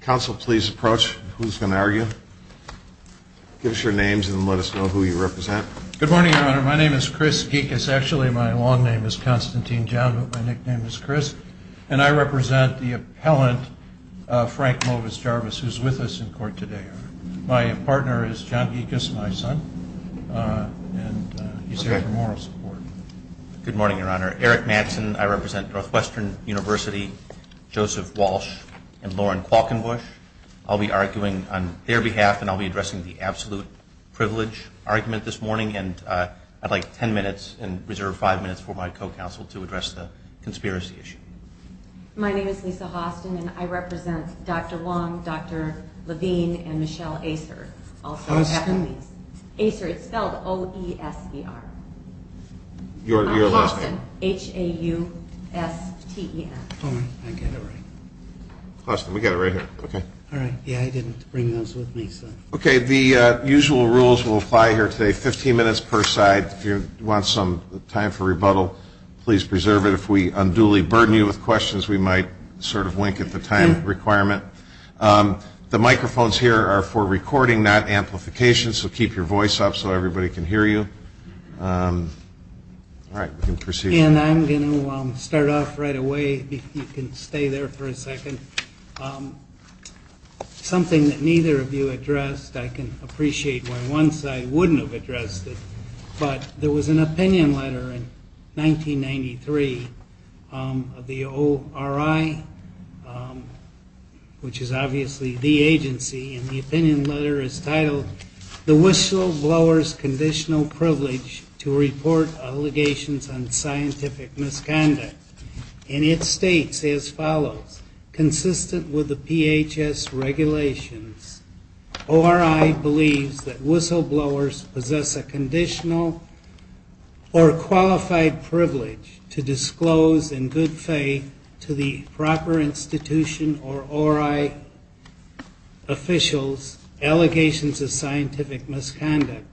Counsel, please approach. Who's going to argue? Give us your names and let us know who you represent. Good morning, Your Honor. My name is Chris Geekus. Actually, my long name is Constantine John, but my nickname is Chris. And I represent the appellant, Frank Movis Jarvis, who's with us in court today. My partner is John Geekus, my son, and he's here for moral support. Good morning, Your Honor. Eric Mattson. I represent Northwestern University, Joseph Walsh, and Lauren Qualkenbush. I'll be arguing on their behalf, and I'll be addressing the absolute privilege argument this morning. And I'd like 10 minutes and reserve 5 minutes for my co-counsel to address the conspiracy issue. My name is Lisa Hostin, and I represent Dr. Wong, Dr. Levine, and Michelle Acer. Acer, it's spelled O-E-S-E-R. I'm Hostin, H-A-U-S-T-E-N. All right, I get it right. Hostin, we got it right here, okay. All right, yeah, I didn't bring those with me, so. Okay, the usual rules will apply here today, 15 minutes per side. If you want some time for rebuttal, please preserve it. If we unduly burden you with questions, we might sort of wink at the time requirement. The microphones here are for recording, not amplification, so keep your voice up so everybody can hear you. All right, we can proceed. And I'm going to start off right away. You can stay there for a second. Something that neither of you addressed, I can appreciate why one side wouldn't have addressed it, but there was an opinion letter in 1993 of the ORI, which is obviously the agency, and the opinion letter is titled, The Whistleblower's Conditional Privilege to Report Allegations on Scientific Misconduct. And it states as follows, Consistent with the PHS regulations, ORI believes that whistleblowers possess a conditional or qualified privilege to disclose in good faith to the proper institution or ORI officials allegations of scientific misconduct.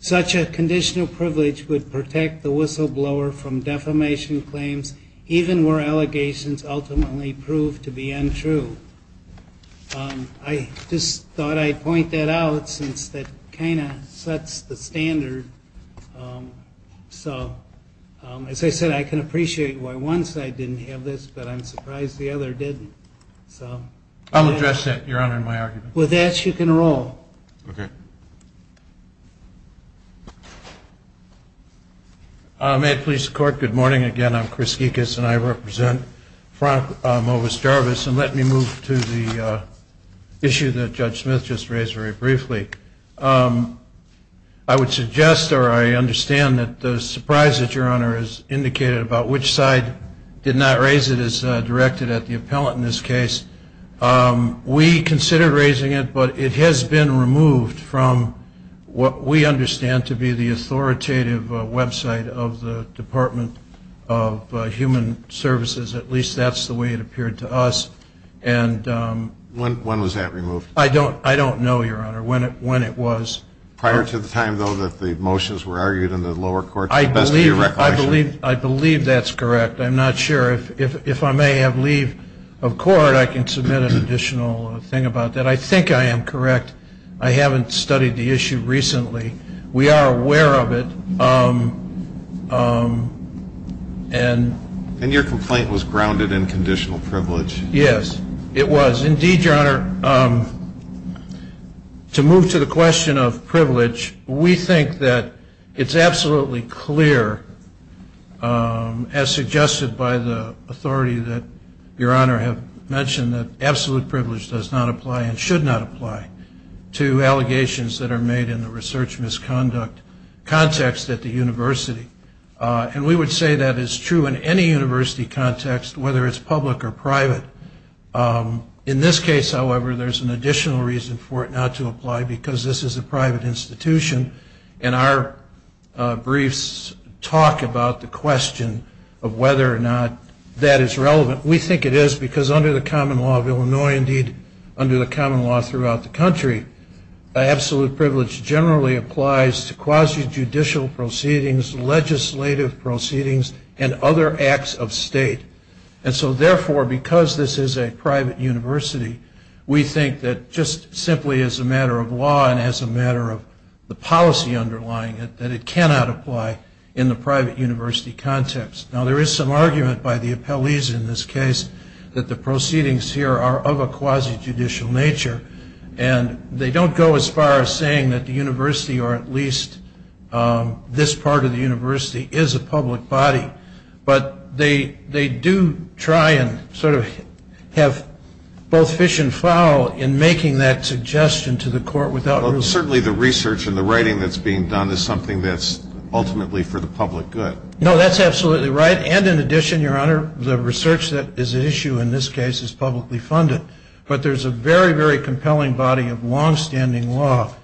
Such a conditional privilege would protect the whistleblower from defamation claims, even where allegations ultimately prove to be untrue. I just thought I'd point that out since that kind of sets the standard. So as I said, I can appreciate why one side didn't have this, but I'm surprised the other didn't. I'll address that, Your Honor, in my argument. With that, you can roll. Okay. May it please the Court, good morning again. I'm Chris Gekas, and I represent Frank Movis Jarvis. And let me move to the issue that Judge Smith just raised very briefly. I would suggest or I understand that the surprise that Your Honor has indicated about which side did not raise it is directed at the appellant in this case. We considered raising it, but it has been removed from what we understand to be the authoritative website of the Department of Human Services. At least that's the way it appeared to us. When was that removed? I don't know, Your Honor. When it was. Prior to the time, though, that the motions were argued in the lower courts. I believe that's correct. I'm not sure. If I may have leave of court, I can submit an additional thing about that. I think I am correct. I haven't studied the issue recently. We are aware of it. And your complaint was grounded in conditional privilege. Yes, it was. Indeed, Your Honor, to move to the question of privilege, we think that it's absolutely clear, as suggested by the authority that Your Honor have mentioned that absolute privilege does not apply and should not apply to allegations that are made in the research misconduct context at the university. And we would say that is true in any university context, whether it's public or private. In this case, however, there's an additional reason for it not to apply because this is a private institution. And our briefs talk about the question of whether or not that is relevant. We think it is because under the common law of Illinois, indeed under the common law throughout the country, absolute privilege generally applies to quasi-judicial proceedings, legislative proceedings, and other acts of state. And so, therefore, because this is a private university, we think that just simply as a matter of law and as a matter of the policy underlying it, that it cannot apply in the private university context. Now, there is some argument by the appellees in this case that the proceedings here are of a quasi-judicial nature. And they don't go as far as saying that the university or at least this part of the university is a public body. But they do try and sort of have both fish and fowl in making that suggestion to the court without real law. Well, certainly the research and the writing that's being done is something that's ultimately for the public good. No, that's absolutely right. And in addition, Your Honor, the research that is at issue in this case is publicly funded. But there's a very, very compelling body of longstanding law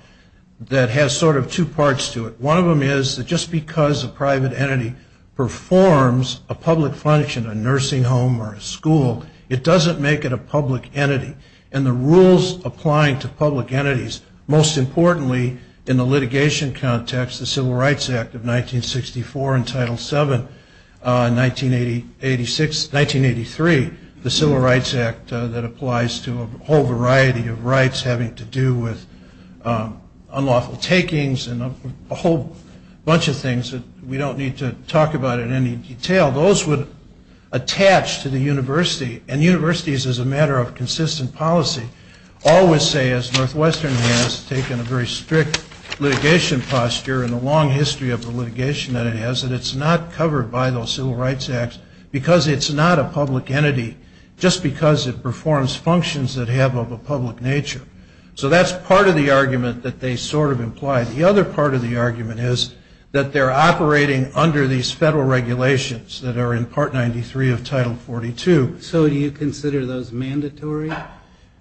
that has sort of two parts to it. One of them is that just because a private entity performs a public function, a nursing home or a school, it doesn't make it a public entity. And the rules applying to public entities, most importantly in the litigation context, the Civil Rights Act of 1964 and Title VII in 1983, the Civil Rights Act that applies to a whole variety of rights having to do with unlawful takings and a whole bunch of things that we don't need to talk about in any detail, those would attach to the university. And universities, as a matter of consistent policy, always say, as Northwestern has taken a very strict litigation posture and a long history of the litigation that it has, that it's not covered by those Civil Rights Acts because it's not a public entity just because it performs functions that have of a public nature. So that's part of the argument that they sort of imply. The other part of the argument is that they're operating under these federal regulations that are in Part 93 of Title 42. So do you consider those mandatory?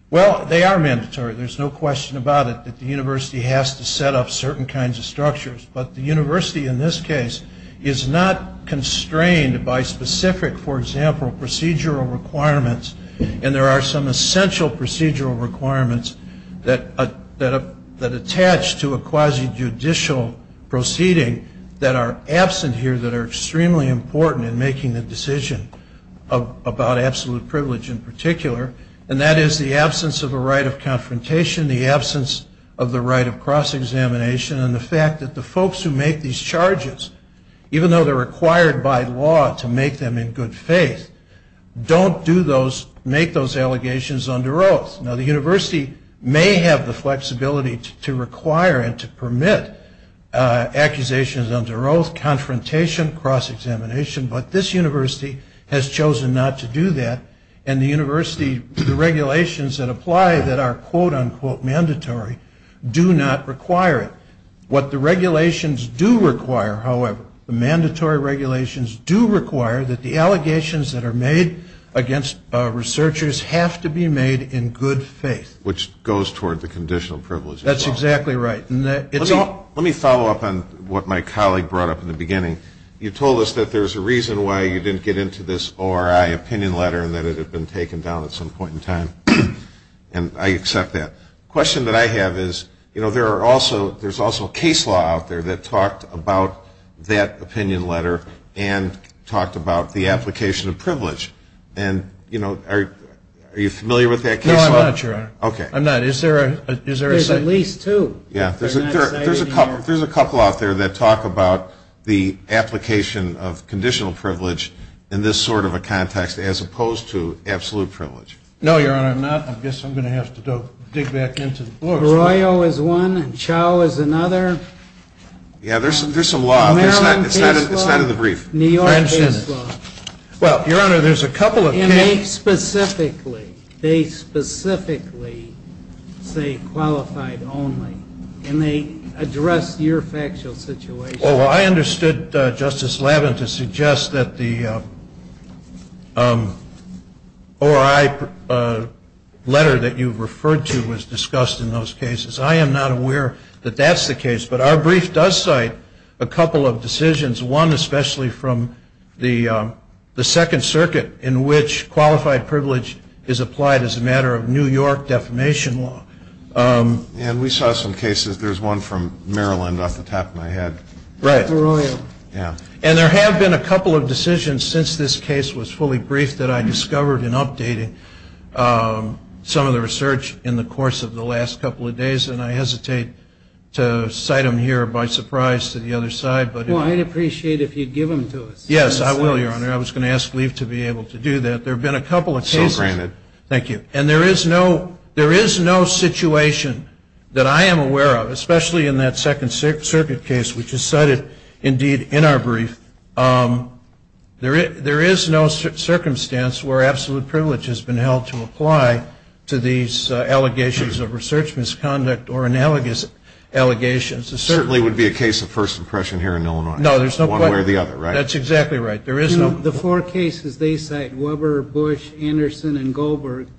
Well, they are mandatory. There's no question about it that the university has to set up certain kinds of structures. But the university in this case is not constrained by specific, for example, procedural requirements. And there are some essential procedural requirements that attach to a quasi-judicial proceeding that are absent here that are extremely important in making the decision about absolute privilege in particular. And that is the absence of a right of confrontation, the absence of the right of cross-examination, and the fact that the folks who make these charges, even though they're required by law to make them in good faith, don't make those allegations under oath. Now, the university may have the flexibility to require and to permit accusations under oath, confrontation, cross-examination, but this university has chosen not to do that. And the university, the regulations that apply that are quote-unquote mandatory do not require it. What the regulations do require, however, the mandatory regulations do require that the allegations that are made against researchers have to be made in good faith. Which goes toward the conditional privilege. That's exactly right. Let me follow up on what my colleague brought up in the beginning. You told us that there's a reason why you didn't get into this ORI opinion letter and that it had been taken down at some point in time. And I accept that. The question that I have is, you know, there are also, there's also case law out there that talked about that opinion letter and talked about the application of privilege. And, you know, are you familiar with that case law? No, I'm not, Your Honor. Okay. I'm not. Is there a second? There's at least two. Yeah, there's a couple out there that talk about the application of conditional privilege in this sort of a context as opposed to absolute privilege. No, Your Honor, I'm not. I guess I'm going to have to dig back into the books. Royo is one. Chau is another. Yeah, there's some law. Maryland case law. It's not in the brief. New York case law. Well, Your Honor, there's a couple of cases. They specifically, they specifically say qualified only. And they address your factual situation. Oh, I understood, Justice Lavin, to suggest that the ORI letter that you referred to was discussed in those cases. I am not aware that that's the case. But our brief does cite a couple of decisions, one especially from the Second Circuit, in which qualified privilege is applied as a matter of New York defamation law. And we saw some cases. There's one from Maryland off the top of my head. Right. Royo. Yeah. And there have been a couple of decisions since this case was fully briefed that I discovered in updating some of the research in the course of the last couple of days. And I hesitate to cite them here by surprise to the other side. Well, I'd appreciate it if you'd give them to us. Yes, I will, Your Honor. I was going to ask Lief to be able to do that. There have been a couple of cases. So granted. Thank you. And there is no situation that I am aware of, especially in that Second Circuit case, which is cited, indeed, in our brief. There is no circumstance where absolute privilege has been held to apply to these allegations of research misconduct or analogous allegations. It certainly would be a case of first impression here in Illinois. No, there's no question. One way or the other, right? That's exactly right. The four cases they cite, Weber, Bush, Anderson, and Goldberg,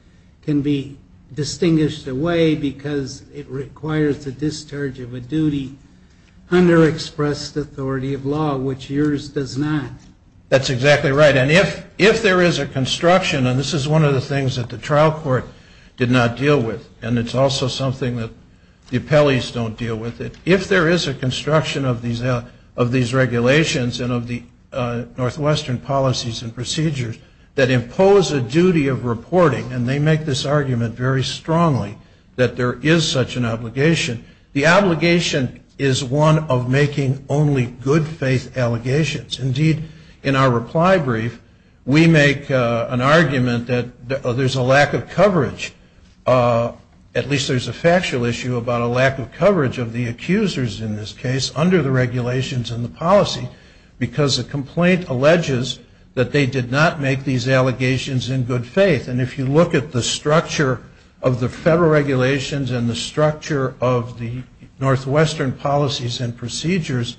can be distinguished away because it requires the discharge of a duty under expressed authority of law, which yours does not. That's exactly right. And if there is a construction, and this is one of the things that the trial court did not deal with, and it's also something that the appellees don't deal with, if there is a construction of these regulations and of the Northwestern policies and procedures that impose a duty of reporting, and they make this argument very strongly that there is such an obligation, the obligation is one of making only good-faith allegations. Indeed, in our reply brief, we make an argument that there's a lack of coverage. At least there's a factual issue about a lack of coverage of the accusers in this case under the regulations and the policy, because the complaint alleges that they did not make these allegations in good faith. And if you look at the structure of the federal regulations and the structure of the Northwestern policies and procedures,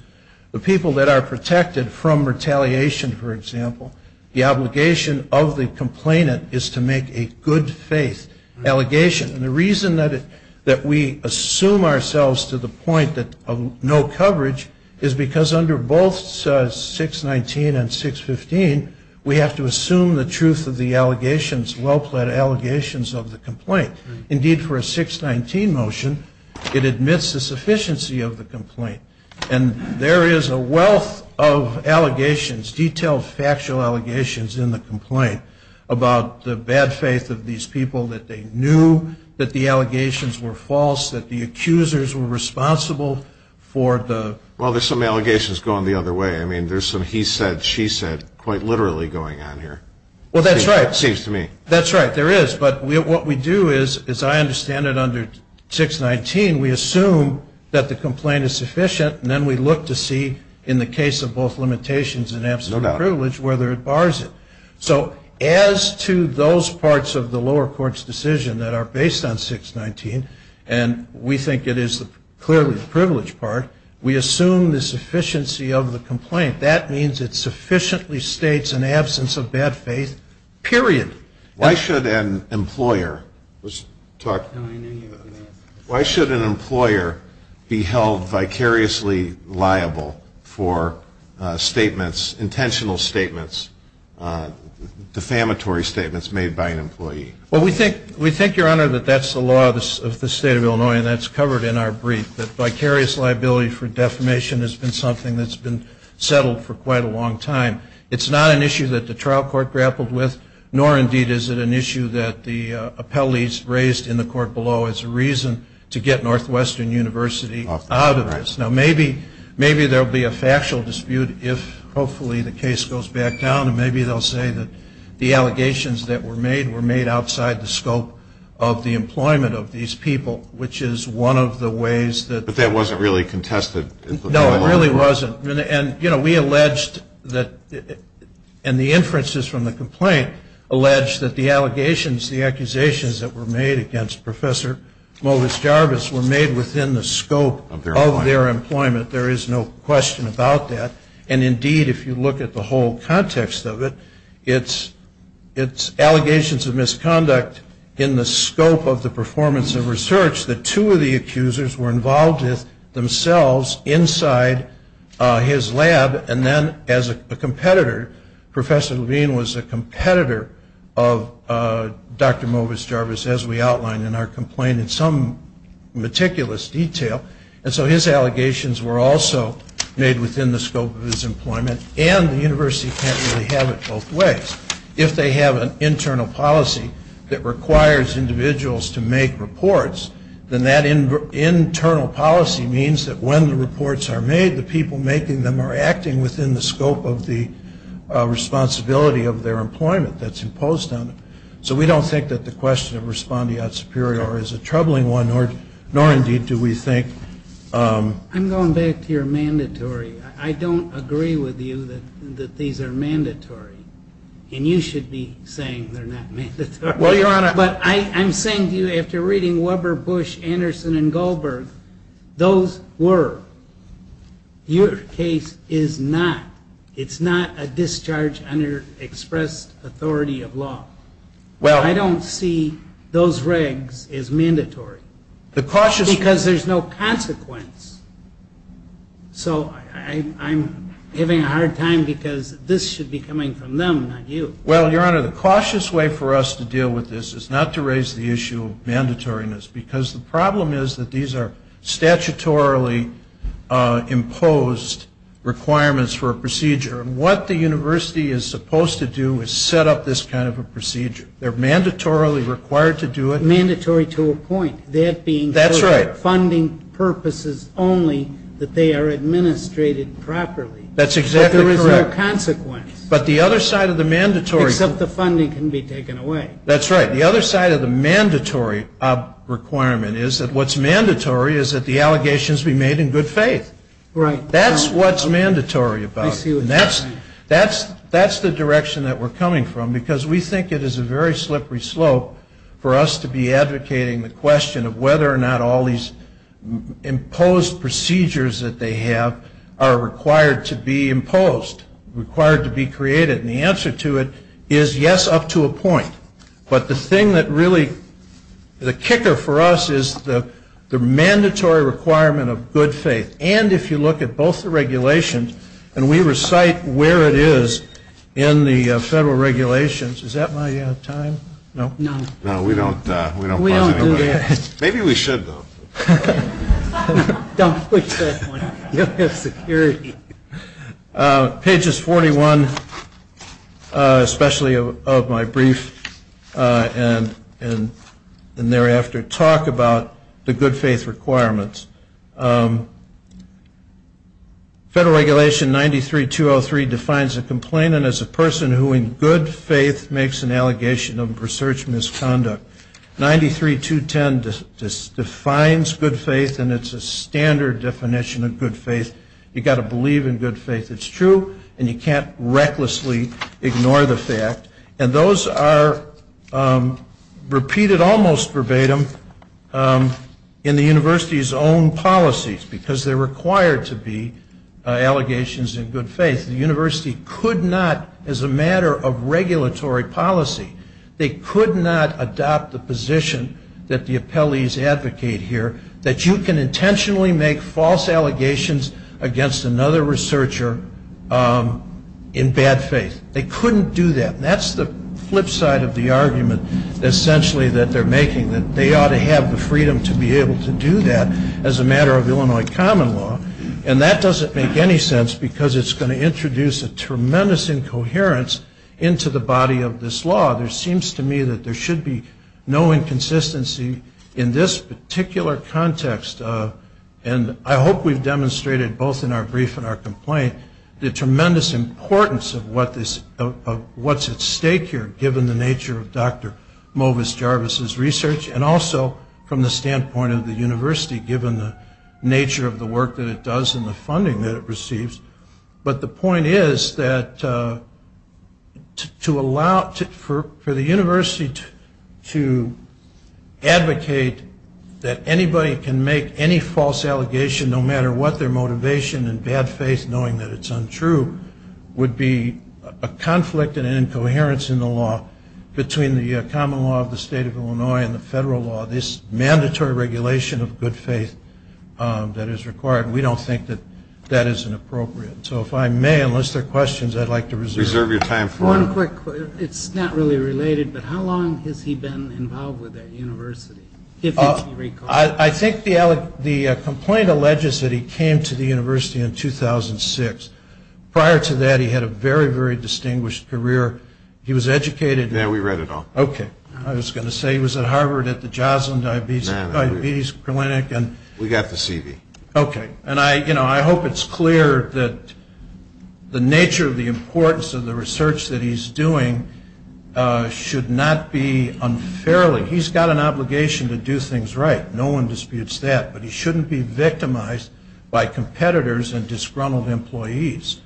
the people that are protected from retaliation, for example, the obligation of the complainant is to make a good-faith allegation. And the reason that we assume ourselves to the point of no coverage is because under both 619 and 615, we have to assume the truth of the allegations, well-pled allegations of the complaint. Indeed, for a 619 motion, it admits the sufficiency of the complaint. And there is a wealth of allegations, detailed, factual allegations in the complaint about the bad faith of these people, that they knew that the allegations were false, that the accusers were responsible for the... Well, there's some allegations going the other way. I mean, there's some he said, she said quite literally going on here. Well, that's right. It seems to me. That's right, there is. But what we do is, as I understand it, under 619, we assume that the complaint is sufficient, and then we look to see in the case of both limitations and absolute privilege whether it bars it. So as to those parts of the lower court's decision that are based on 619, and we think it is clearly the privileged part, we assume the sufficiency of the complaint. That means it sufficiently states an absence of bad faith, period. Why should an employer be held vicariously liable for statements, intentional statements, defamatory statements made by an employee? Well, we think, Your Honor, that that's the law of the state of Illinois, and that's covered in our brief, that vicarious liability for defamation has been something that's been settled for quite a long time. It's not an issue that the trial court grappled with, nor indeed is it an issue that the appellees raised in the court below as a reason to get Northwestern University out of this. Now, maybe there will be a factual dispute if hopefully the case goes back down, and maybe they'll say that the allegations that were made were made outside the scope of the employment of these people, which is one of the ways that. But that wasn't really contested. No, it really wasn't. We alleged that, and the inferences from the complaint allege that the allegations, the accusations that were made against Professor Movis Jarvis were made within the scope of their employment. There is no question about that. And indeed, if you look at the whole context of it, it's allegations of misconduct in the scope of the performance of research that two of the accusers were involved with themselves inside his lab, and then as a competitor, Professor Levine was a competitor of Dr. Movis Jarvis, as we outlined in our complaint in some meticulous detail. And so his allegations were also made within the scope of his employment, and the university can't really have it both ways. If they have an internal policy that requires individuals to make reports, then that internal policy means that when the reports are made, the people making them are acting within the scope of the responsibility of their employment that's imposed on them. So we don't think that the question of respondeat superior is a troubling one, nor indeed do we think. I'm going back to your mandatory. I don't agree with you that these are mandatory. And you should be saying they're not mandatory. But I'm saying to you, after reading Weber, Bush, Anderson, and Goldberg, those were. Your case is not. It's not a discharge under expressed authority of law. I don't see those regs as mandatory. Because there's no consequence. So I'm having a hard time because this should be coming from them, not you. Well, Your Honor, the cautious way for us to deal with this is not to raise the issue of mandatoriness, because the problem is that these are statutorily imposed requirements for a procedure. And what the university is supposed to do is set up this kind of a procedure. They're mandatorily required to do it. Mandatory to a point. That's right. Funding purposes only that they are administrated properly. That's exactly correct. But there is no consequence. But the other side of the mandatory. Except the funding can be taken away. That's right. The other side of the mandatory requirement is that what's mandatory is that the allegations be made in good faith. Right. That's what's mandatory about it. I see what you're saying. And that's the direction that we're coming from, because we think it is a very slippery slope for us to be advocating the question of whether or not all these imposed procedures that they have are required to be imposed, required to be created. And the answer to it is, yes, up to a point. But the thing that really, the kicker for us is the mandatory requirement of good faith. And if you look at both the regulations, and we recite where it is in the federal regulations. Is that my time? No. No, we don't. We don't. Maybe we should, though. Don't push that one. Pages 41, especially of my brief, and thereafter, talk about the good faith requirements. Federal Regulation 93-203 defines a complainant as a person who, in good faith, makes an allegation of research misconduct. 93-210 defines good faith, and it's a standard definition of good faith. You've got to believe in good faith. It's true, and you can't recklessly ignore the fact. And those are repeated almost verbatim in the university's own policies, because they're required to be allegations in good faith. The university could not, as a matter of regulatory policy, they could not adopt the position that the appellees advocate here, that you can intentionally make false allegations against another researcher in bad faith. They couldn't do that. That's the flip side of the argument, essentially, that they're making, that they ought to have the freedom to be able to do that as a matter of Illinois common law. And that doesn't make any sense, because it's going to introduce a tremendous incoherence into the body of this law. There seems to me that there should be no inconsistency in this particular context. And I hope we've demonstrated, both in our brief and our complaint, the tremendous importance of what's at stake here, given the nature of Dr. Movis Jarvis's research, and also from the standpoint of the university, given the nature of the work that it does and the funding that it receives. But the point is that for the university to advocate that anybody can make any false allegation, no matter what their motivation in bad faith, knowing that it's untrue, would be a conflict and an incoherence in the law between the common law of the state of Illinois and the federal law, this mandatory regulation of good faith that is required. And we don't think that that is inappropriate. So if I may, unless there are questions, I'd like to reserve your time for them. One quick question. It's not really related, but how long has he been involved with that university, if you recall? I think the complaint alleges that he came to the university in 2006. Prior to that, he had a very, very distinguished career. He was educated. Yeah, we read it all. Okay. I was going to say he was at Harvard at the Joslin Diabetes Clinic. We got the CV. Okay. And I hope it's clear that the nature of the importance of the research that he's doing should not be unfairly. He's got an obligation to do things right. No one disputes that. But he shouldn't be victimized by competitors and disgruntled employees,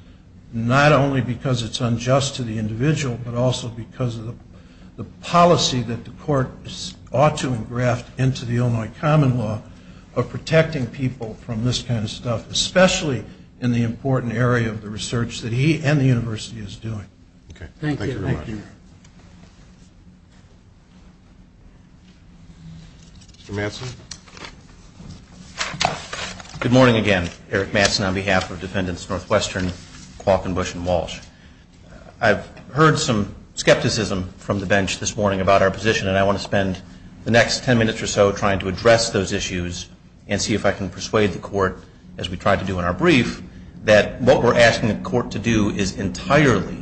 not only because it's unjust to the individual, but also because of the policy that the court ought to engraft into the Illinois common law of protecting people from this kind of stuff, especially in the important area of the research that he and the university is doing. Okay. Thank you very much. Thank you. Mr. Mattson. Good morning again. Eric Mattson on behalf of Defendants Northwestern, Qualcomm, Bush, and Walsh. I've heard some skepticism from the bench this morning about our position, and I want to spend the next 10 minutes or so trying to address those issues and see if I can persuade the court, as we tried to do in our brief, that what we're asking the court to do is entirely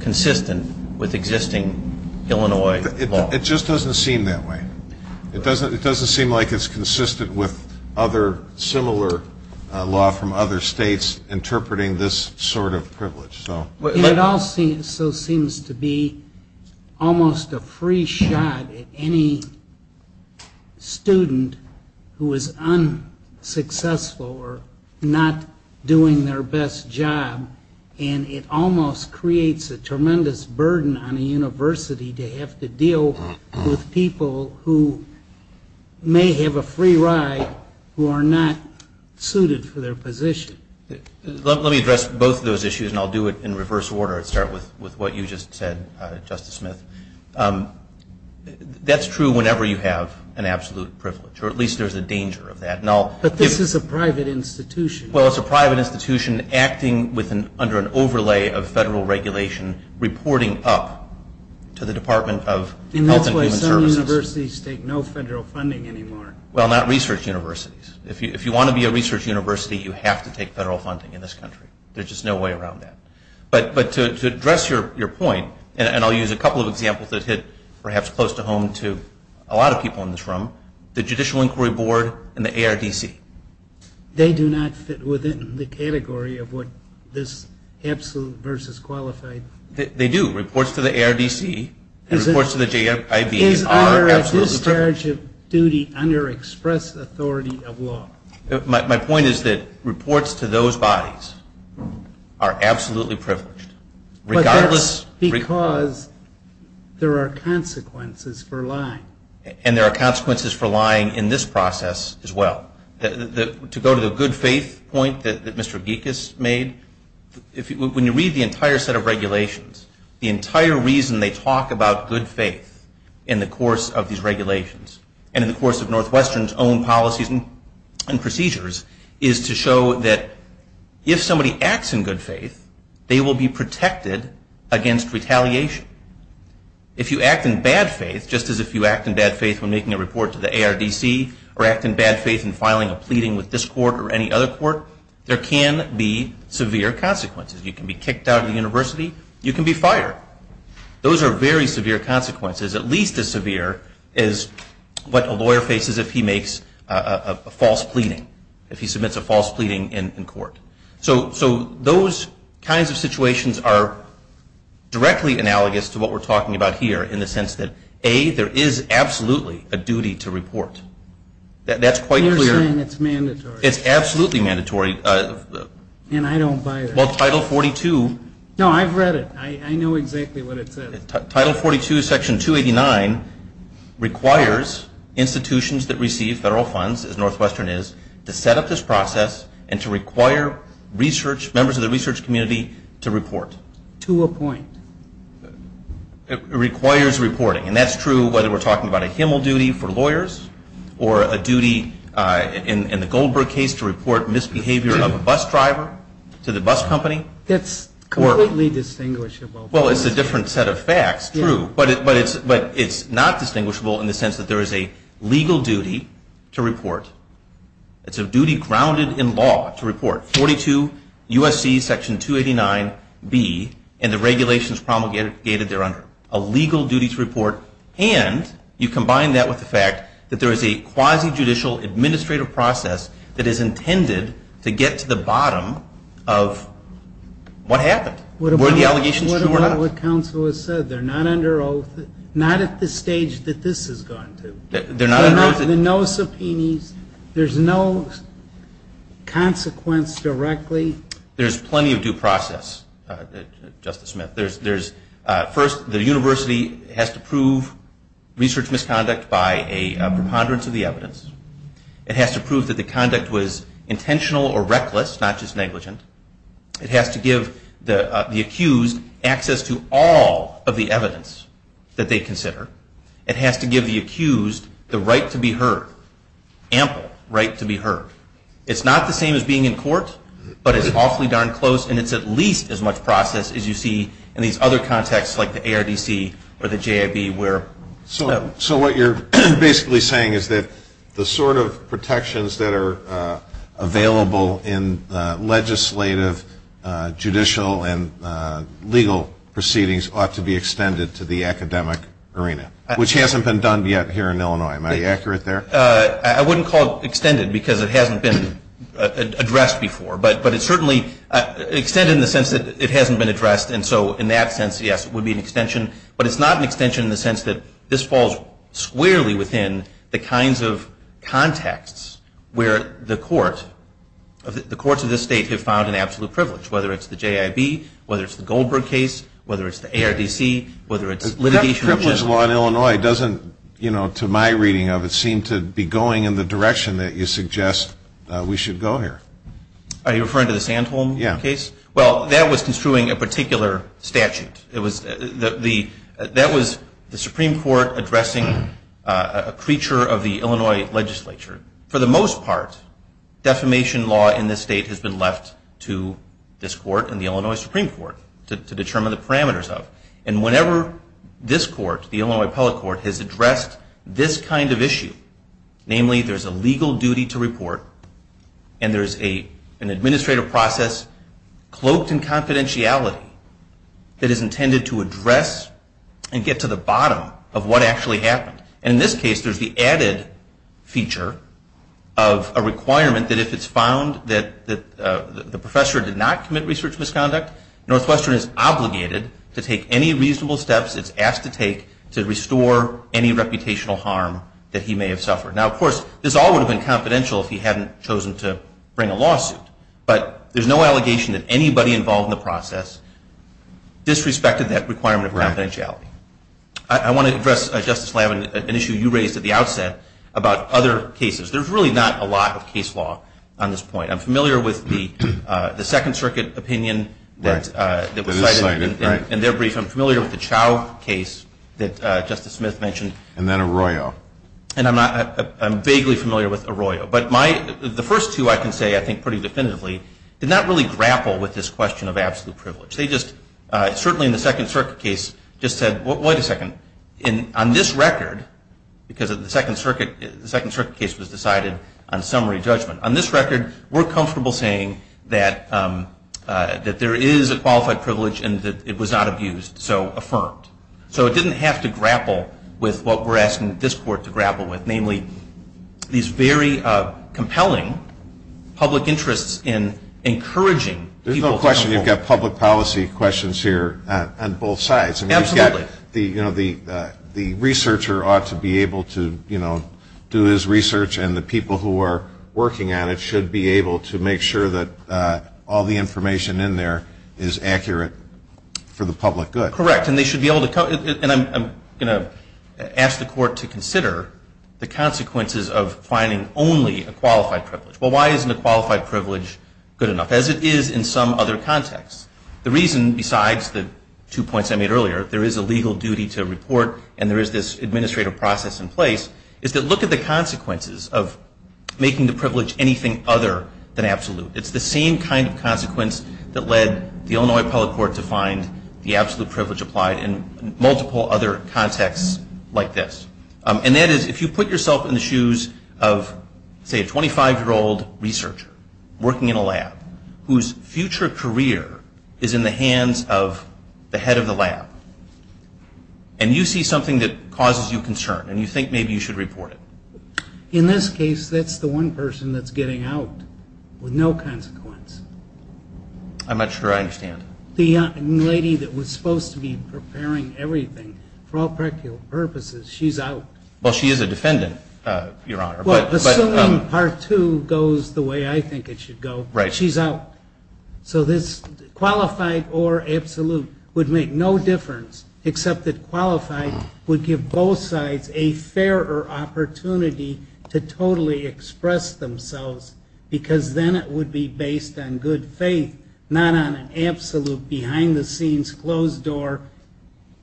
consistent with existing Illinois law. It just doesn't seem that way. It doesn't seem like it's consistent with other similar law from other states interpreting this sort of privilege. It all so seems to be almost a free shot at any student who is unsuccessful or not doing their best job, and it almost creates a tremendous burden on a university to have to deal with people who may have a free ride who are not suited for their position. Let me address both of those issues, and I'll do it in reverse order and start with what you just said, Justice Smith. That's true whenever you have an absolute privilege, or at least there's a danger of that. But this is a private institution. Well, it's a private institution acting under an overlay of federal regulation, reporting up to the Department of Health and Human Services. In that case, some universities take no federal funding anymore. Well, not research universities. If you want to be a research university, you have to take federal funding in this country. There's just no way around that. But to address your point, and I'll use a couple of examples that hit perhaps close to home to a lot of people in this room, the Judicial Inquiry Board and the ARDC. They do not fit within the category of what this absolute versus qualified. They do. Reports to the ARDC and reports to the JIV are absolutely private. They are in charge of duty under expressed authority of law. My point is that reports to those bodies are absolutely privileged. But that's because there are consequences for lying. And there are consequences for lying in this process as well. To go to the good faith point that Mr. Gekas made, when you read the entire set of regulations, the entire reason they talk about good faith in the course of these regulations and in the course of Northwestern's own policies and procedures, is to show that if somebody acts in good faith, they will be protected against retaliation. If you act in bad faith, just as if you act in bad faith when making a report to the ARDC or act in bad faith in filing a pleading with this court or any other court, there can be severe consequences. You can be kicked out of the university. You can be fired. Those are very severe consequences, at least as severe as what a lawyer faces if he makes a false pleading, if he submits a false pleading in court. So those kinds of situations are directly analogous to what we're talking about here in the sense that, A, there is absolutely a duty to report. That's quite clear. You're saying it's mandatory. It's absolutely mandatory. And I don't buy that. Well, Title 42. No, I've read it. I know exactly what it says. Title 42, Section 289, requires institutions that receive federal funds, as Northwestern is, to set up this process and to require members of the research community to report. To appoint. It requires reporting. Or a duty, in the Goldberg case, to report misbehavior of a bus driver to the bus company. That's completely distinguishable. Well, it's a different set of facts. True. But it's not distinguishable in the sense that there is a legal duty to report. It's a duty grounded in law to report. 42 U.S.C. Section 289b and the regulations promulgated thereunder. A legal duty to report. And you combine that with the fact that there is a quasi-judicial administrative process that is intended to get to the bottom of what happened. Were the allegations true or not? What about what counsel has said? They're not under oath. Not at the stage that this has gone to. They're not under oath. No subpoenas. There's no consequence directly. There's plenty of due process, Justice Smith. First, the university has to prove research misconduct by a preponderance of the evidence. It has to prove that the conduct was intentional or reckless, not just negligent. It has to give the accused access to all of the evidence that they consider. It has to give the accused the right to be heard. Ample right to be heard. It's not the same as being in court, but it's awfully darn close, and it's at least as much process as you see in these other contexts like the ARDC or the JIB. So what you're basically saying is that the sort of protections that are available in legislative, judicial, and legal proceedings ought to be extended to the academic arena, which hasn't been done yet here in Illinois. Am I accurate there? I wouldn't call it extended because it hasn't been addressed before. But it's certainly extended in the sense that it hasn't been addressed, and so in that sense, yes, it would be an extension. But it's not an extension in the sense that this falls squarely within the kinds of contexts where the court, the courts of this state have found an absolute privilege, whether it's the JIB, whether it's the Goldberg case, whether it's the ARDC, whether it's litigation. That privilege law in Illinois doesn't, you know, to my reading of it, seem to be going in the direction that you suggest we should go here. Are you referring to the Sandholm case? Yeah. Well, that was construing a particular statute. That was the Supreme Court addressing a creature of the Illinois legislature. For the most part, defamation law in this state has been left to this court and the Illinois Supreme Court to determine the parameters of. And whenever this court, the Illinois Appellate Court, has addressed this kind of issue, namely there's a legal duty to report and there's an administrative process cloaked in confidentiality that is intended to address and get to the bottom of what actually happened. And in this case, there's the added feature of a requirement that if it's found that the professor did not commit research misconduct, Northwestern is obligated to take any reasonable steps it's asked to take to restore any reputational harm that he may have suffered. Now, of course, this all would have been confidential if he hadn't chosen to bring a lawsuit. But there's no allegation that anybody involved in the process disrespected that requirement of confidentiality. I want to address, Justice Levin, an issue you raised at the outset about other cases. There's really not a lot of case law on this point. I'm familiar with the Second Circuit opinion that was cited in their brief. I'm familiar with the Chau case that Justice Smith mentioned. And then Arroyo. And I'm vaguely familiar with Arroyo. But the first two, I can say, I think, pretty definitively, did not really grapple with this question of absolute privilege. They just certainly in the Second Circuit case just said, wait a second, on this record, because the Second Circuit case was decided on summary judgment, on this record, we're comfortable saying that there is a qualified privilege and that it was not abused, so affirmed. So it didn't have to grapple with what we're asking this Court to grapple with, namely these very compelling public interests in encouraging people to come forward. There's no question you've got public policy questions here on both sides. Absolutely. I mean, you've got the researcher ought to be able to do his research, and the people who are working on it should be able to make sure that all the information in there is accurate for the public good. Correct. And they should be able to come. And I'm going to ask the Court to consider the consequences of finding only a qualified privilege. Well, why isn't a qualified privilege good enough, as it is in some other contexts? The reason, besides the two points I made earlier, there is a legal duty to report and there is this administrative process in place, is to look at the consequences of making the privilege anything other than absolute. It's the same kind of consequence that led the Illinois Appellate Court to find the absolute privilege applied in multiple other contexts like this. And that is, if you put yourself in the shoes of, say, a 25-year-old researcher working in a lab, whose future career is in the hands of the head of the lab, and you see something that causes you concern and you think maybe you should report it. In this case, that's the one person that's getting out with no consequence. I'm not sure I understand. The lady that was supposed to be preparing everything, for all practical purposes, she's out. Well, she is a defendant, Your Honor. Well, assuming part two goes the way I think it should go, she's out. So this qualified or absolute would make no difference, except that qualified would give both sides a fairer opportunity to totally express themselves, because then it would be based on good faith, not on an absolute, behind-the-scenes, closed-door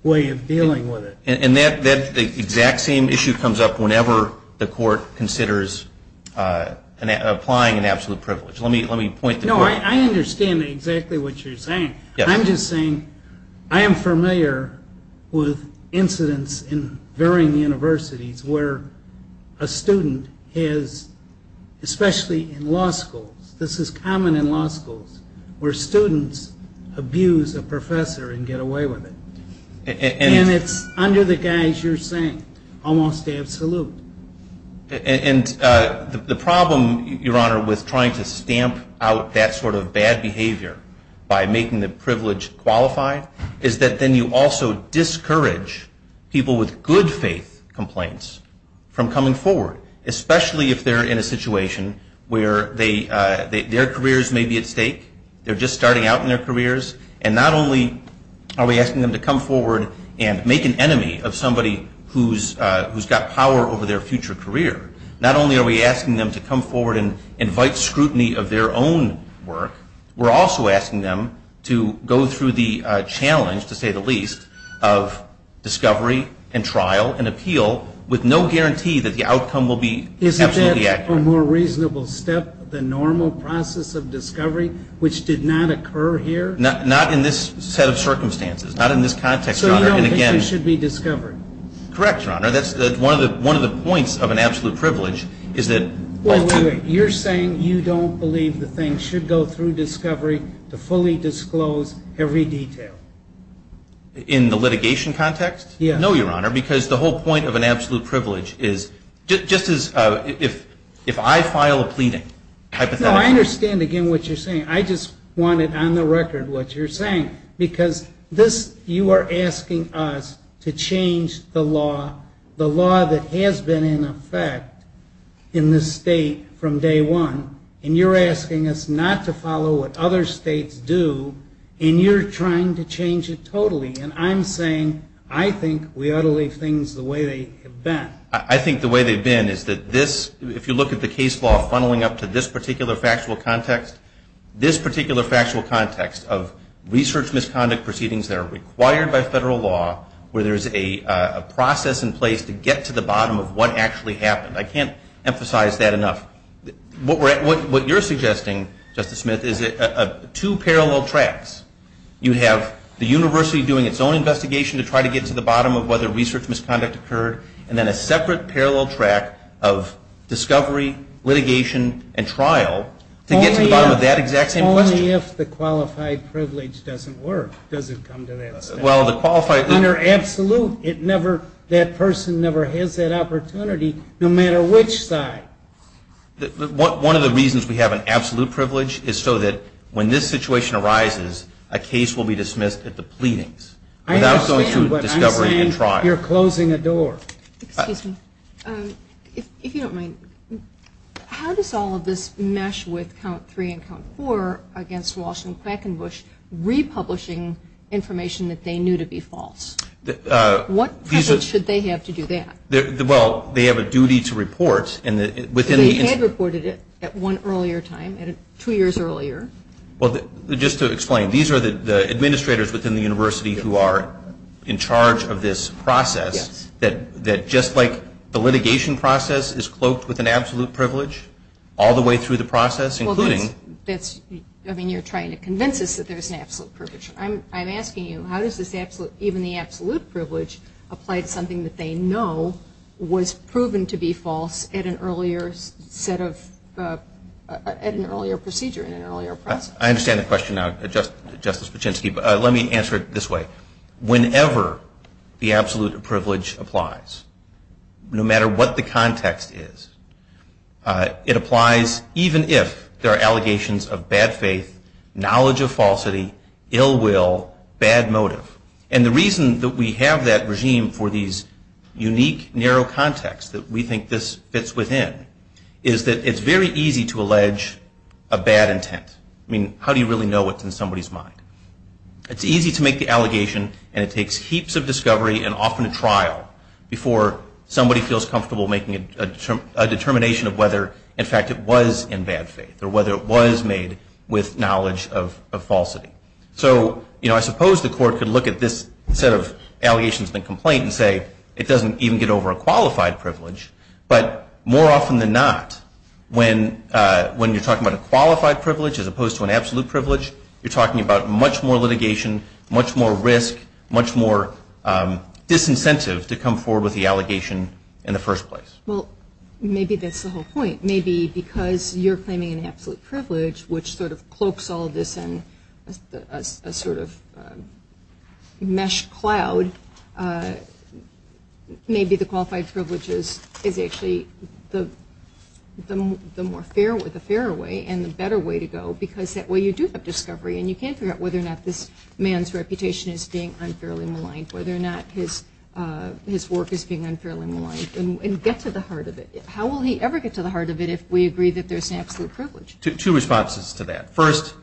way of dealing with it. And that exact same issue comes up whenever the court considers applying an absolute privilege. No, I understand exactly what you're saying. I'm just saying I am familiar with incidents in varying universities where a student has, especially in law schools, this is common in law schools, where students abuse a professor and get away with it. And it's under the guise you're saying, almost absolute. And the problem, Your Honor, with trying to stamp out that sort of bad behavior by making the privilege qualified, is that then you also discourage people with good faith complaints from coming forward, especially if they're in a situation where their careers may be at stake. They're just starting out in their careers, and not only are we asking them to come forward and make an enemy of somebody who's got power over their future career, not only are we asking them to come forward and invite scrutiny of their own work, we're also asking them to go through the challenge, to say the least, of discovery and trial and appeal, with no guarantee that the outcome will be absolutely accurate. Is that, for a more reasonable step, the normal process of discovery, which did not occur here? Not in this set of circumstances, not in this context, Your Honor. So you don't think they should be discovered? Correct, Your Honor. That's one of the points of an absolute privilege, is that... Wait, wait, wait. You're saying you don't believe the thing should go through discovery to fully disclose every detail? In the litigation context? Yes. No, Your Honor, because the whole point of an absolute privilege is, just as if I file a pleading, hypothetically... No, I understand, again, what you're saying. I just wanted, on the record, what you're saying, because this, you are asking us to change the law, the law that has been in effect in this state from day one, and you're asking us not to follow what other states do, and you're trying to change it totally. And I'm saying I think we ought to leave things the way they have been. I think the way they've been is that this, if you look at the case law funneling up to this particular factual context, this particular factual context of research misconduct proceedings that are required by federal law, where there's a process in place to get to the bottom of what actually happened. I can't emphasize that enough. What you're suggesting, Justice Smith, is two parallel tracks. You have the university doing its own investigation to try to get to the bottom of whether research misconduct occurred, and then a separate parallel track of discovery, litigation, and trial to get to the bottom of that exact same question. Only if the qualified privilege doesn't work, does it come to that state. Well, the qualified... Your Honor, absolute. It never, that person never has that opportunity, no matter which side. One of the reasons we have an absolute privilege is so that when this situation arises, a case will be dismissed at the pleadings without going through discovery and trial. I understand what I'm saying. You're closing a door. Excuse me. If you don't mind, how does all of this mesh with count three and count four against Walsh and Quickenbush republishing information that they knew to be false? What privilege should they have to do that? Well, they have a duty to report. They had reported it at one earlier time, two years earlier. Well, just to explain, these are the administrators within the university who are in charge of this process, that just like the litigation process is cloaked with an absolute privilege all the way through the process, including... I mean, you're trying to convince us that there's an absolute privilege. I'm asking you, how does this absolute, even the absolute privilege, apply to something that they know was proven to be false at an earlier set of, at an earlier procedure, in an earlier process? I understand the question now, Justice Paczynski, but let me answer it this way. Whenever the absolute privilege applies, no matter what the context is, it applies even if there are allegations of bad faith, knowledge of falsity, ill will, bad motive. And the reason that we have that regime for these unique, narrow contexts that we think this fits within is that it's very easy to allege a bad intent. I mean, how do you really know what's in somebody's mind? It's easy to make the allegation, and it takes heaps of discovery and often a trial before somebody feels comfortable making a determination of whether, in fact, it was in bad faith or whether it was made with knowledge of falsity. So, you know, I suppose the court could look at this set of allegations and complaints and say, it doesn't even get over a qualified privilege. But more often than not, when you're talking about a qualified privilege as opposed to an absolute privilege, you're talking about much more litigation, much more risk, much more disincentive to come forward with the allegation in the first place. Well, maybe that's the whole point. Maybe because you're claiming an absolute privilege, which sort of cloaks all this in a sort of mesh cloud, maybe the qualified privilege is actually the fairer way and the better way to go, because that way you do have discovery and you can't figure out whether or not this man's reputation is being unfairly maligned, whether or not his work is being unfairly maligned, and get to the heart of it. How will he ever get to the heart of it if we agree that there's an absolute privilege? Two responses to that. First,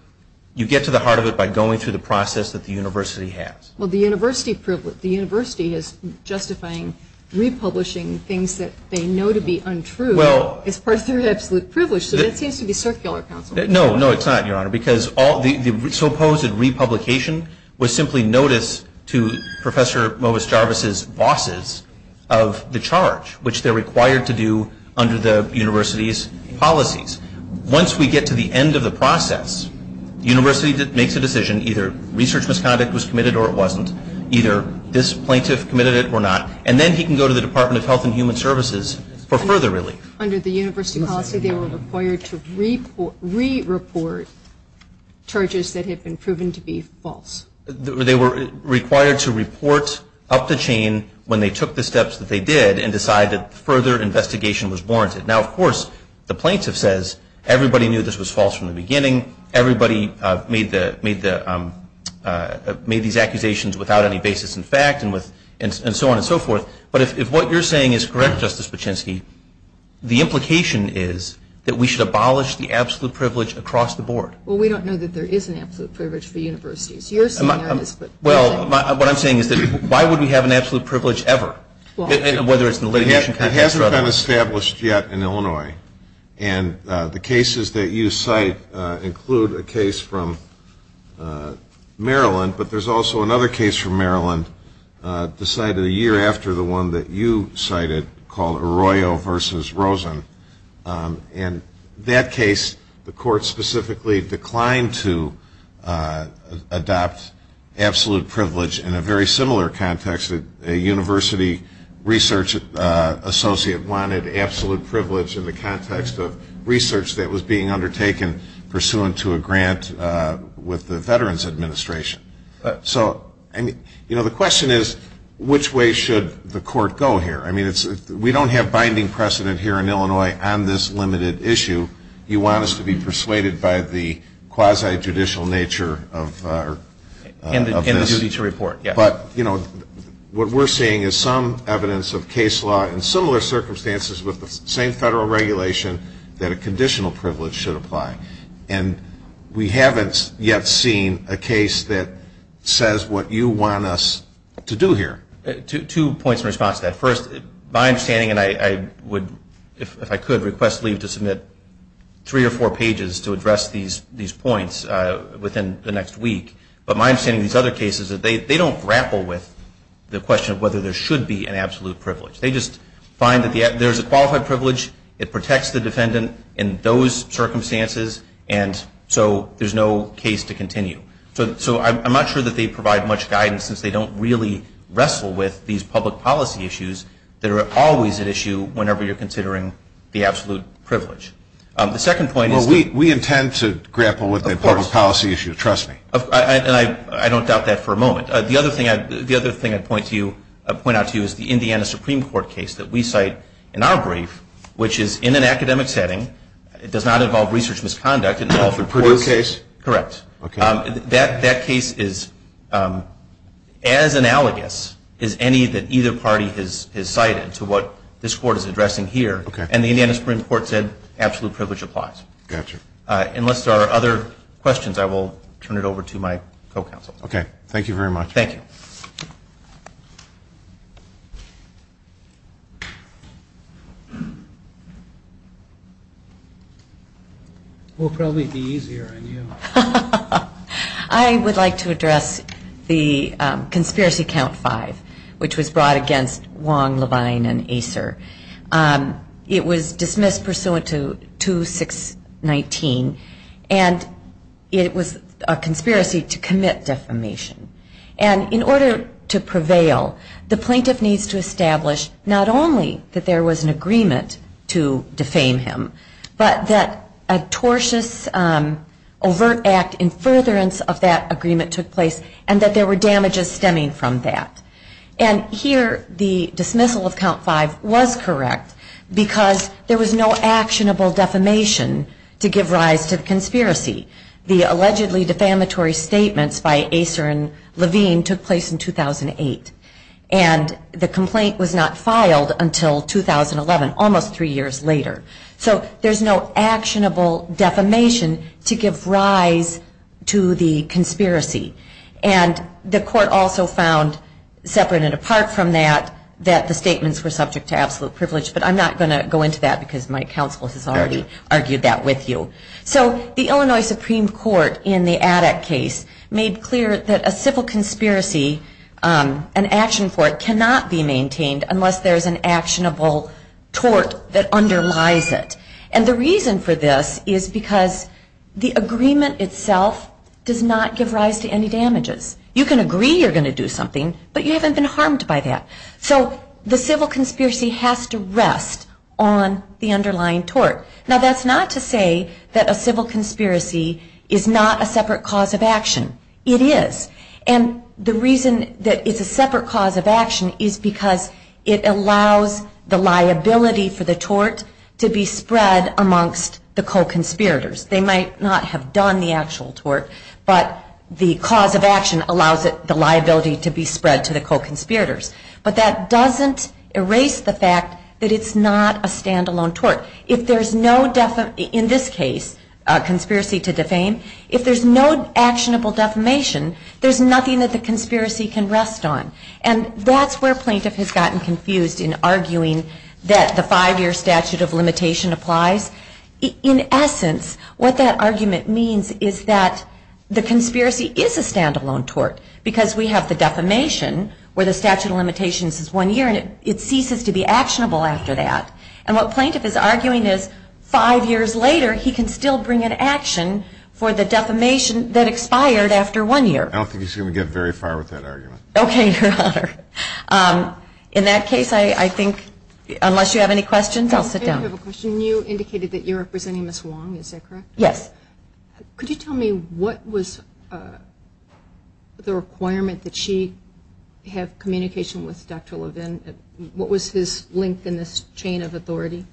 you get to the heart of it by going through the process that the university has. Well, the university has justifying republishing things that they know to be untrue as part of their absolute privilege. That seems to be circular, counsel. No, no, it's not, Your Honor, because the supposed republication was simply notice to Professor Movis Jarvis's bosses of the charge, which they're required to do under the university's policies. Once we get to the end of the process, the university makes a decision, either research misconduct was committed or it wasn't, either this plaintiff committed it or not, and then he can go to the Department of Health and Human Services for further relief. Under the university policy, they were required to re-report charges that had been proven to be false. They were required to report up the chain when they took the steps that they did and decided that further investigation was warranted. Now, of course, the plaintiff says everybody knew this was false from the beginning, everybody made these accusations without any basis in fact and so on and so forth, but if what you're saying is correct, Justice Paczynski, the implication is that we should abolish the absolute privilege across the board. Well, we don't know that there is an absolute privilege for universities. You're saying there is. Well, what I'm saying is that why would we have an absolute privilege ever, whether it's in the litigation context or otherwise? It hasn't been established yet in Illinois, and the cases that you cite include a case from Maryland, but there's also another case from Maryland decided a year after the one that you cited called Arroyo v. Rosen. In that case, the court specifically declined to adopt absolute privilege in a very similar context. A university research associate wanted absolute privilege in the context of research that was being undertaken pursuant to a grant with the Veterans Administration. So, you know, the question is which way should the court go here? I mean, we don't have binding precedent here in Illinois on this limited issue. You want us to be persuaded by the quasi-judicial nature of this. And the duty to report, yes. But, you know, what we're seeing is some evidence of case law in similar circumstances with the same federal regulation that a conditional privilege should apply. And we haven't yet seen a case that says what you want us to do here. Two points in response to that. First, my understanding, and I would, if I could, request leave to submit three or four pages to address these points within the next week. But my understanding of these other cases is that they don't grapple with the question of whether there should be an absolute privilege. They just find that there's a qualified privilege, it protects the defendant in those circumstances, and so there's no case to continue. So I'm not sure that they provide much guidance since they don't really wrestle with these public policy issues that are always at issue whenever you're considering the absolute privilege. The second point is that- Well, we intend to grapple with the public policy issues. Of course. Trust me. And I don't doubt that for a moment. The other thing I'd point out to you is the Indiana Supreme Court case that we cite in our brief, which is in an academic setting. It does not involve research misconduct. Oh, the Purdue case? Correct. Okay. That case is as analogous as any that either party has cited to what this Court is addressing here. Okay. And the Indiana Supreme Court said absolute privilege applies. Gotcha. Unless there are other questions, I will turn it over to my co-counsel. Okay. Thank you very much. Thank you. We'll probably be easier on you. I would like to address the conspiracy count five, which was brought against Wong, Levine, and Acer. It was dismissed pursuant to 2619, and it was a conspiracy to commit defamation. And in order to prevail, the plaintiff needs to establish not only that there was an agreement to defame him, but that a tortious, overt act in furtherance of that agreement took place, and that there were damages stemming from that. And here, the dismissal of count five was correct, because there was no actionable defamation to give rise to the conspiracy. The allegedly defamatory statements by Acer and Levine took place in 2008. And the complaint was not filed until 2011, almost three years later. So there's no actionable defamation to give rise to the conspiracy. And the court also found, separate and apart from that, that the statements were subject to absolute privilege. But I'm not going to go into that, because my counsel has already argued that with you. So the Illinois Supreme Court, in the Addak case, made clear that a civil conspiracy, an action for it, cannot be maintained unless there's an actionable tort that underlies it. And the reason for this is because the agreement itself does not give rise to any damages. You can agree you're going to do something, but you haven't been harmed by that. So the civil conspiracy has to rest on the underlying tort. Now, that's not to say that a civil conspiracy is not a separate cause of action. It is. And the reason that it's a separate cause of action is because it allows the liability for the tort to be spread amongst the co-conspirators. They might not have done the actual tort, but the cause of action allows the liability to be spread to the co-conspirators. But that doesn't erase the fact that it's not a standalone tort. If there's no, in this case, conspiracy to defame, if there's no actionable defamation, there's nothing that the conspiracy can rest on. And that's where plaintiff has gotten confused in arguing that the five-year statute of limitation applies. In essence, what that argument means is that the conspiracy is a standalone tort, because we have the defamation, where the statute of limitations is one year, and it ceases to be actionable after that. And what plaintiff is arguing is, five years later, he can still bring an action for the defamation that expired after one year. I don't think he's going to get very far with that argument. Okay, Your Honor. In that case, I think, unless you have any questions, I'll sit down. I do have a question. You indicated that you're representing Ms. Wong, is that correct? Yes. Could you tell me what was the requirement that she have communication with Dr. Levin? What was his link in this chain of authority?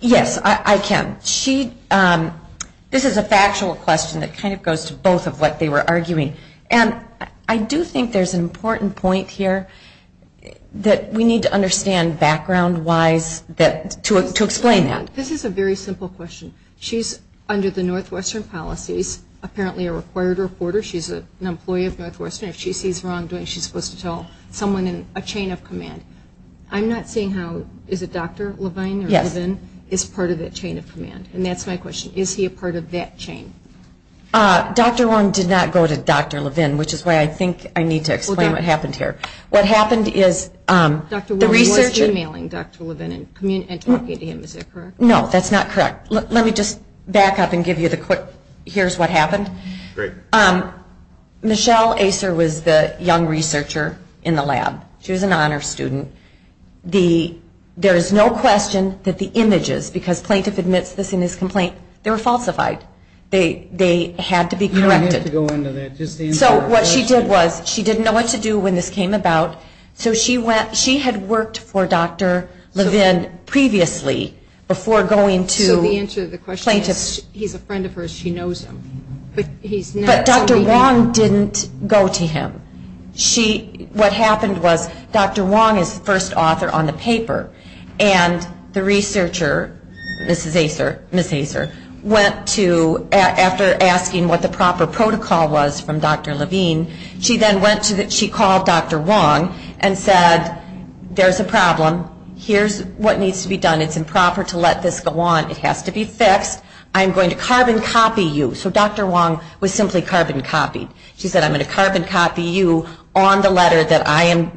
Yes, I can. This is a factual question that kind of goes to both of what they were arguing. And I do think there's an important point here that we need to understand background-wise to explain that. This is a very simple question. She's under the Northwestern policies, apparently a required reporter. She's an employee of Northwestern. If she sees wrongdoing, she's supposed to tell someone in a chain of command. I'm not seeing how, is it Dr. Levin? Yes. Is part of that chain of command. And that's my question. Is he a part of that chain? Dr. Wong did not go to Dr. Levin, which is why I think I need to explain what happened here. What happened is the researcher... Dr. Wong was emailing Dr. Levin and talking to him, is that correct? No, that's not correct. Let me just back up and give you the quick, here's what happened. Michelle Acer was the young researcher in the lab. She was an honor student. There is no question that the images, because plaintiff admits this in his complaint, they were falsified. They had to be corrected. So what she did was she didn't know what to do when this came about, so she had worked for Dr. Levin previously before going to plaintiffs. So the answer to the question is he's a friend of hers, she knows him. But Dr. Wong didn't go to him. What happened was Dr. Wong is the first author on the paper, and the researcher, Mrs. Acer, went to Dr. Levin. She went to Dr. Levin after asking what the proper protocol was from Dr. Levin. She then went to Dr. Wong and said, there's a problem. Here's what needs to be done. It's improper to let this go on. It has to be fixed. I'm going to carbon copy you. So Dr. Wong was simply carbon copied. She said, I'm going to carbon copy you on the letter that I am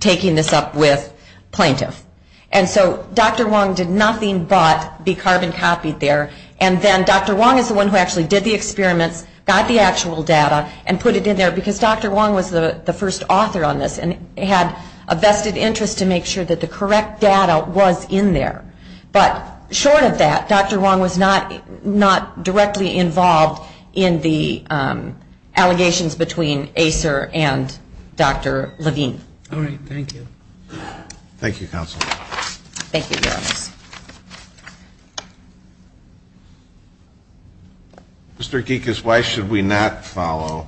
taking this up with plaintiff. And so Dr. Wong did nothing but be carbon copied there, and then Dr. Wong is the first author on the paper. So Dr. Wong was the one who actually did the experiments, got the actual data, and put it in there, because Dr. Wong was the first author on this, and had a vested interest to make sure that the correct data was in there. But short of that, Dr. Wong was not directly involved in the allegations between Acer and Dr. Levin. All right. Thank you. Thank you, Counsel. Thank you, Your Honor. Mr. Geekus, why should we not follow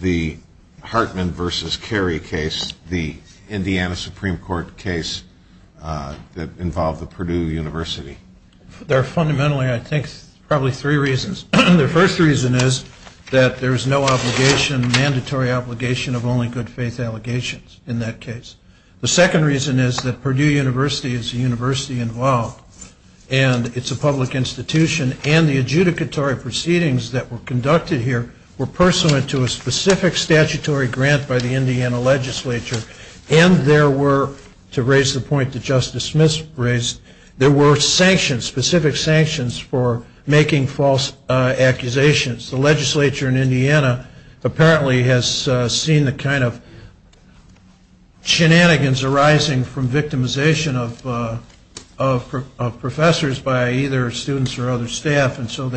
the Hartman v. Carey case, the Indiana Supreme Court case that involved the Purdue University? There are fundamentally, I think, probably three reasons. The first reason is that there's no obligation, mandatory obligation, of only good faith. And the second reason is that there's no obligation of only good faith. The reason for this is that you can't have bad faith allegations in that case. The second reason is that Purdue University is a university involved, and it's a public institution. And the adjudicatory proceedings that were conducted here were pursuant to a specific statutory grant by the Indiana legislature, and there were, to raise the point that Justice Smith raised, there were sanctions, specific sanctions for making false accusations. The legislature in Indiana apparently has seen the kind of shenanigans arising from victimization of professors by either students or other staff, and so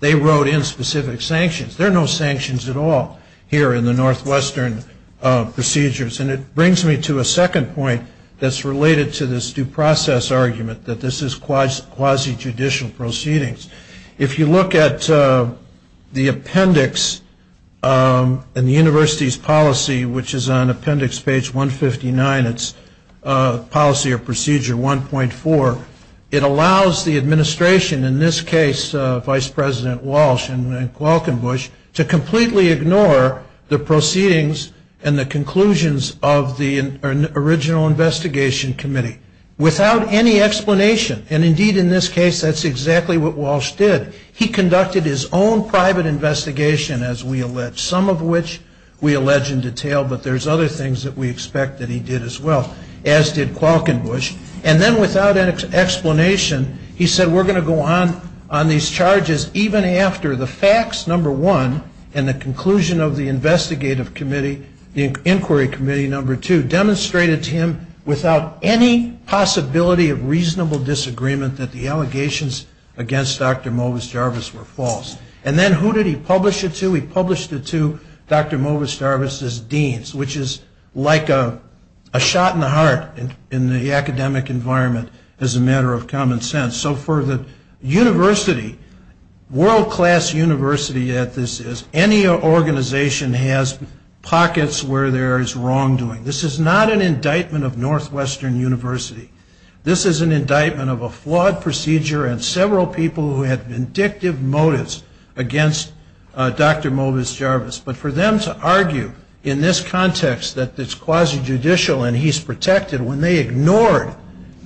they wrote in specific sanctions. There are no sanctions at all here in the Northwestern procedures. And it brings me to a second point that's related to this due process argument, that this is quasi-judicial proceedings. If you look at the appendix in the university's policy, which is on appendix page 159, it's policy or procedure 1.4, it allows the administration, in this case, Vice President Walsh and Welkenbusch, to completely ignore the proceedings and the conclusions of the original investigation committee, without any explanation. And, indeed, in this case, that's exactly what Walsh said. He conducted his own private investigation, as we allege, some of which we allege in detail, but there's other things that we expect that he did as well, as did Welkenbusch. And then, without an explanation, he said, we're going to go on on these charges even after the facts, number one, and the conclusion of the investigative committee, the inquiry committee, number two, demonstrated to him, without any possibility of reasonable disagreement, that the allegations against Dr. Walsh were false. And then, who did he publish it to? He published it to Dr. Jarvis' deans, which is like a shot in the heart in the academic environment, as a matter of common sense. So, for the university, world-class university that this is, any organization has pockets where there is wrongdoing. This is not an indictment of Northwestern University. This is an indictment of a flawed procedure and several people who had been involved in it. And, indeed, this is not an indictment of a flawed procedure. And, indeed, it's not an indictment of a flawed procedure. And, indeed, this is not an indictment of a flawed procedure. So, for the university, the university did have vindictive motives against Dr. Jarvis, but, for them to argue in this context that it's quasi-judicial and he's protected, when they ignored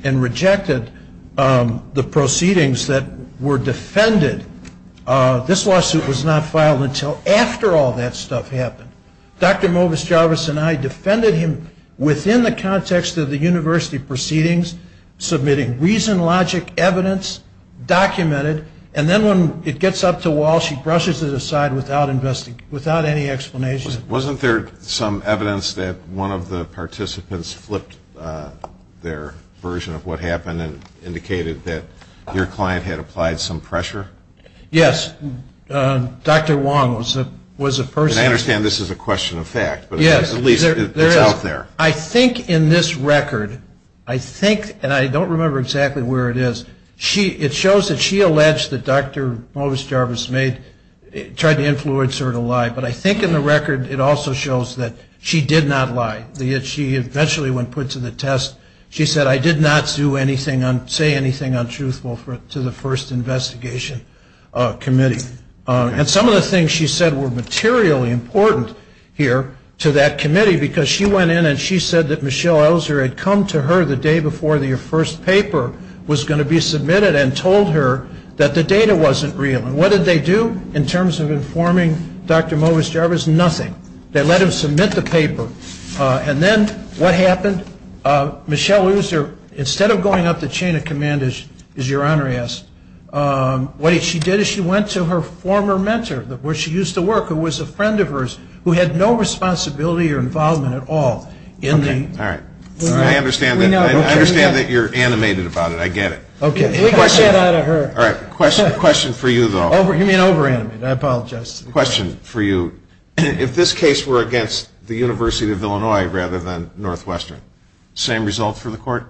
and rejected the proceedings that were defended, this lawsuit was not filed until after all of that stuff happened. Dr. Jarvis and Dr. Jarvis and Dr. Wong are not witnesses of this case. This is a non-judicial case. And, indeed, this is not an indictment of a flawed procedure. And, then, when it gets up to wall, she brushes it aside without any explanation. Wasn't there some evidence that one of the participants flipped their version of what happened and indicated that your client had applied some pressure? Yes. Dr. Wong was a person. And, I understand this is a question of fact. Yes. But, at least, it's out there. I think, in this record, I think, and I don't remember exactly where it is, it shows that she alleged that Dr. Jarvis made, tried to influence her to lie. But, I think, in the record, it also shows that she did not lie. She eventually went put to the test. She said, I did not do anything, say anything untruthful to the first investigation committee. And, some of the things she said were materially important here to that committee because she went in and she said that Michelle Elzer had come to her the day before the first paper was going to be published. And, she said that the chain of command was not real. And, what did they do in terms of informing Dr. Jarvis? Nothing. They let him submit the paper. And, then, what happened? Michelle Elzer, instead of going up the chain of command, as your Honor asks, what she did is she went to her former mentor, where she used to work, who was a friend of hers, who had no responsibility or involvement at all in the. Okay. All right. I understand that you're animated about it. I get it. Okay. All right. Question for you, though. You mean over-animated. I apologize. Question for you. If this case were against the University of Illinois rather than Northwestern, same result for the court?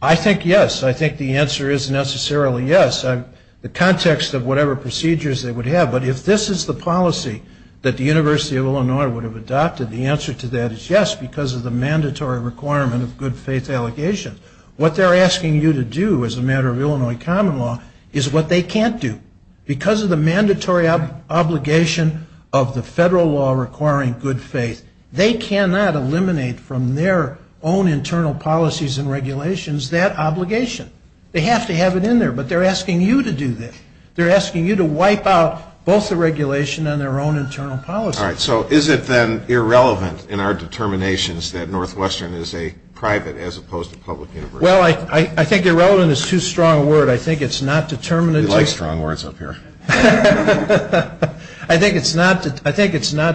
I think yes. I think the answer is necessarily yes. The context of whatever procedures they would have. But, if this is the policy that the University of Illinois would have adopted, the answer to that is yes because of the mandatory requirement of good faith allegations. What they're asking you to do as a matter of Illinois common law is what they can't do. Because of the mandatory obligation of the federal law requiring good faith, they cannot eliminate from their own internal policies and regulations that obligation. They have to have it in there. But, they're asking you to do that. They're asking you to wipe out both the regulation and their own internal policy. All right. So, is it, then, irrelevant in our determinations that Northwestern is a private as opposed to public university? Well, I think irrelevant is too strong a word. I think it's not determinative. You like strong words up here. I think it's not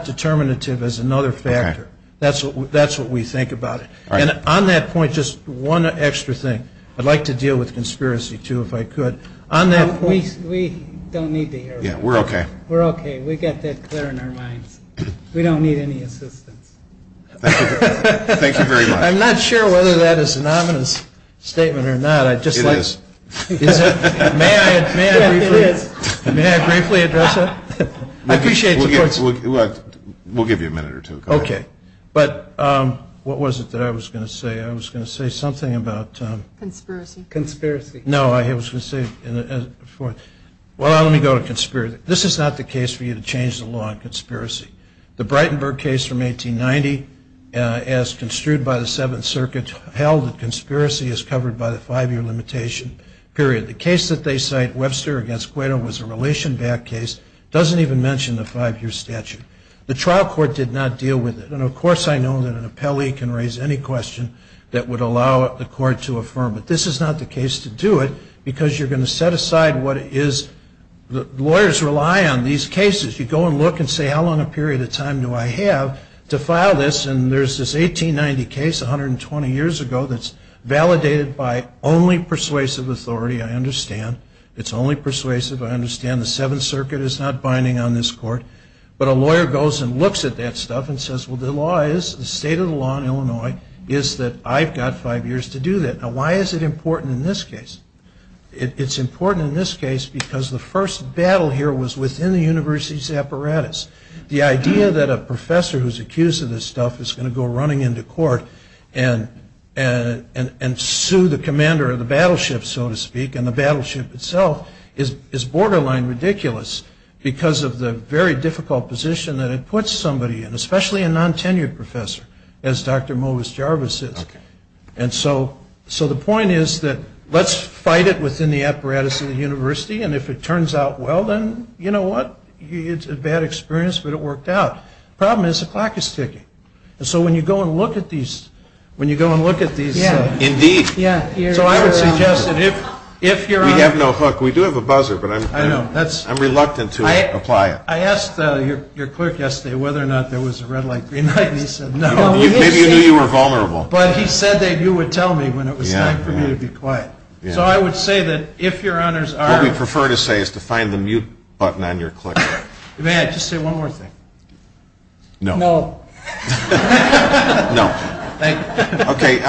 determinative as another factor. That's what we think about it. And, on that point, just one extra thing. I'd like to deal with conspiracy, too, if I could. We don't need to hear that. We're okay. We're okay. We got that clear in our minds. We don't need any assistance. Thank you very much. I'm not sure whether that is an ominous statement or not. It is. May I briefly address that? We'll give you a minute or two. Okay. But, what was it that I was going to say? I was going to say something about... Conspiracy. Conspiracy. No, I was going to say, well, let me go to conspiracy. This is not the case for you to change the law on conspiracy. The Breitenberg case from 1890, as construed by the Fifth Circuit, held that conspiracy is covered by the five-year limitation period. The case that they cite, Webster against Guero, was a relation-backed case. It doesn't even mention the five-year statute. The trial court did not deal with it. And, of course, I know that an appellee can raise any question that would allow the court to affirm it. This is not the case to do it because you're going to set aside what is... Lawyers rely on these cases. You go and look and say, how long a period of time do I have to file this? And, there's this 1890 case, 120 years ago, that's validated by only persuasive authority, I understand. It's only persuasive, I understand. The Seventh Circuit is not binding on this court. But, a lawyer goes and looks at that stuff and says, well, the law is, the state of the law in Illinois is that I've got five years to do that. Now, why is it important in this case? It's important in this case because the first battle here was within the university's apparatus. The idea that a professor who's accused of this stuff is going to go running into court and sue the commander of the battleship, so to speak, and the battleship itself is borderline ridiculous because of the very difficult position that it puts somebody in, especially a non-tenured professor, as Dr. Movis Jarvis is. And so, the point is that let's fight it within the apparatus of the university, and if it turns out well, then, you know what, it's a bad experience, but it worked out. The problem is the clock is ticking. And so, when you go and look at these, when you go and look at these. Indeed. So, I would suggest that if your honor. We have no hook. We do have a buzzer, but I'm reluctant to apply it. I asked your clerk yesterday whether or not there was a red light, green light, and he said no. Maybe you knew you were vulnerable. But, he said that you would tell me when it was time for me to be quiet. So, I would say that if your honor, you have a mute button on your clicker. May I just say one more thing? No. No. No. Okay.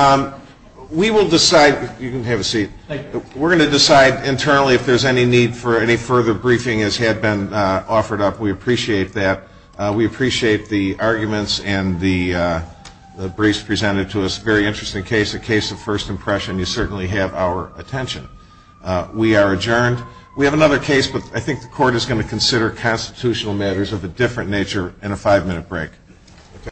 We will decide. You can have a seat. We're going to decide internally if there's any need for any further briefing as had been offered up. We appreciate that. We appreciate the arguments and the briefs presented to us. Very interesting case. A case of first impression. You certainly have our attention. We are adjourned. We have another case, but I think the court is going to consider constitutional matters of a different nature in a five-minute break.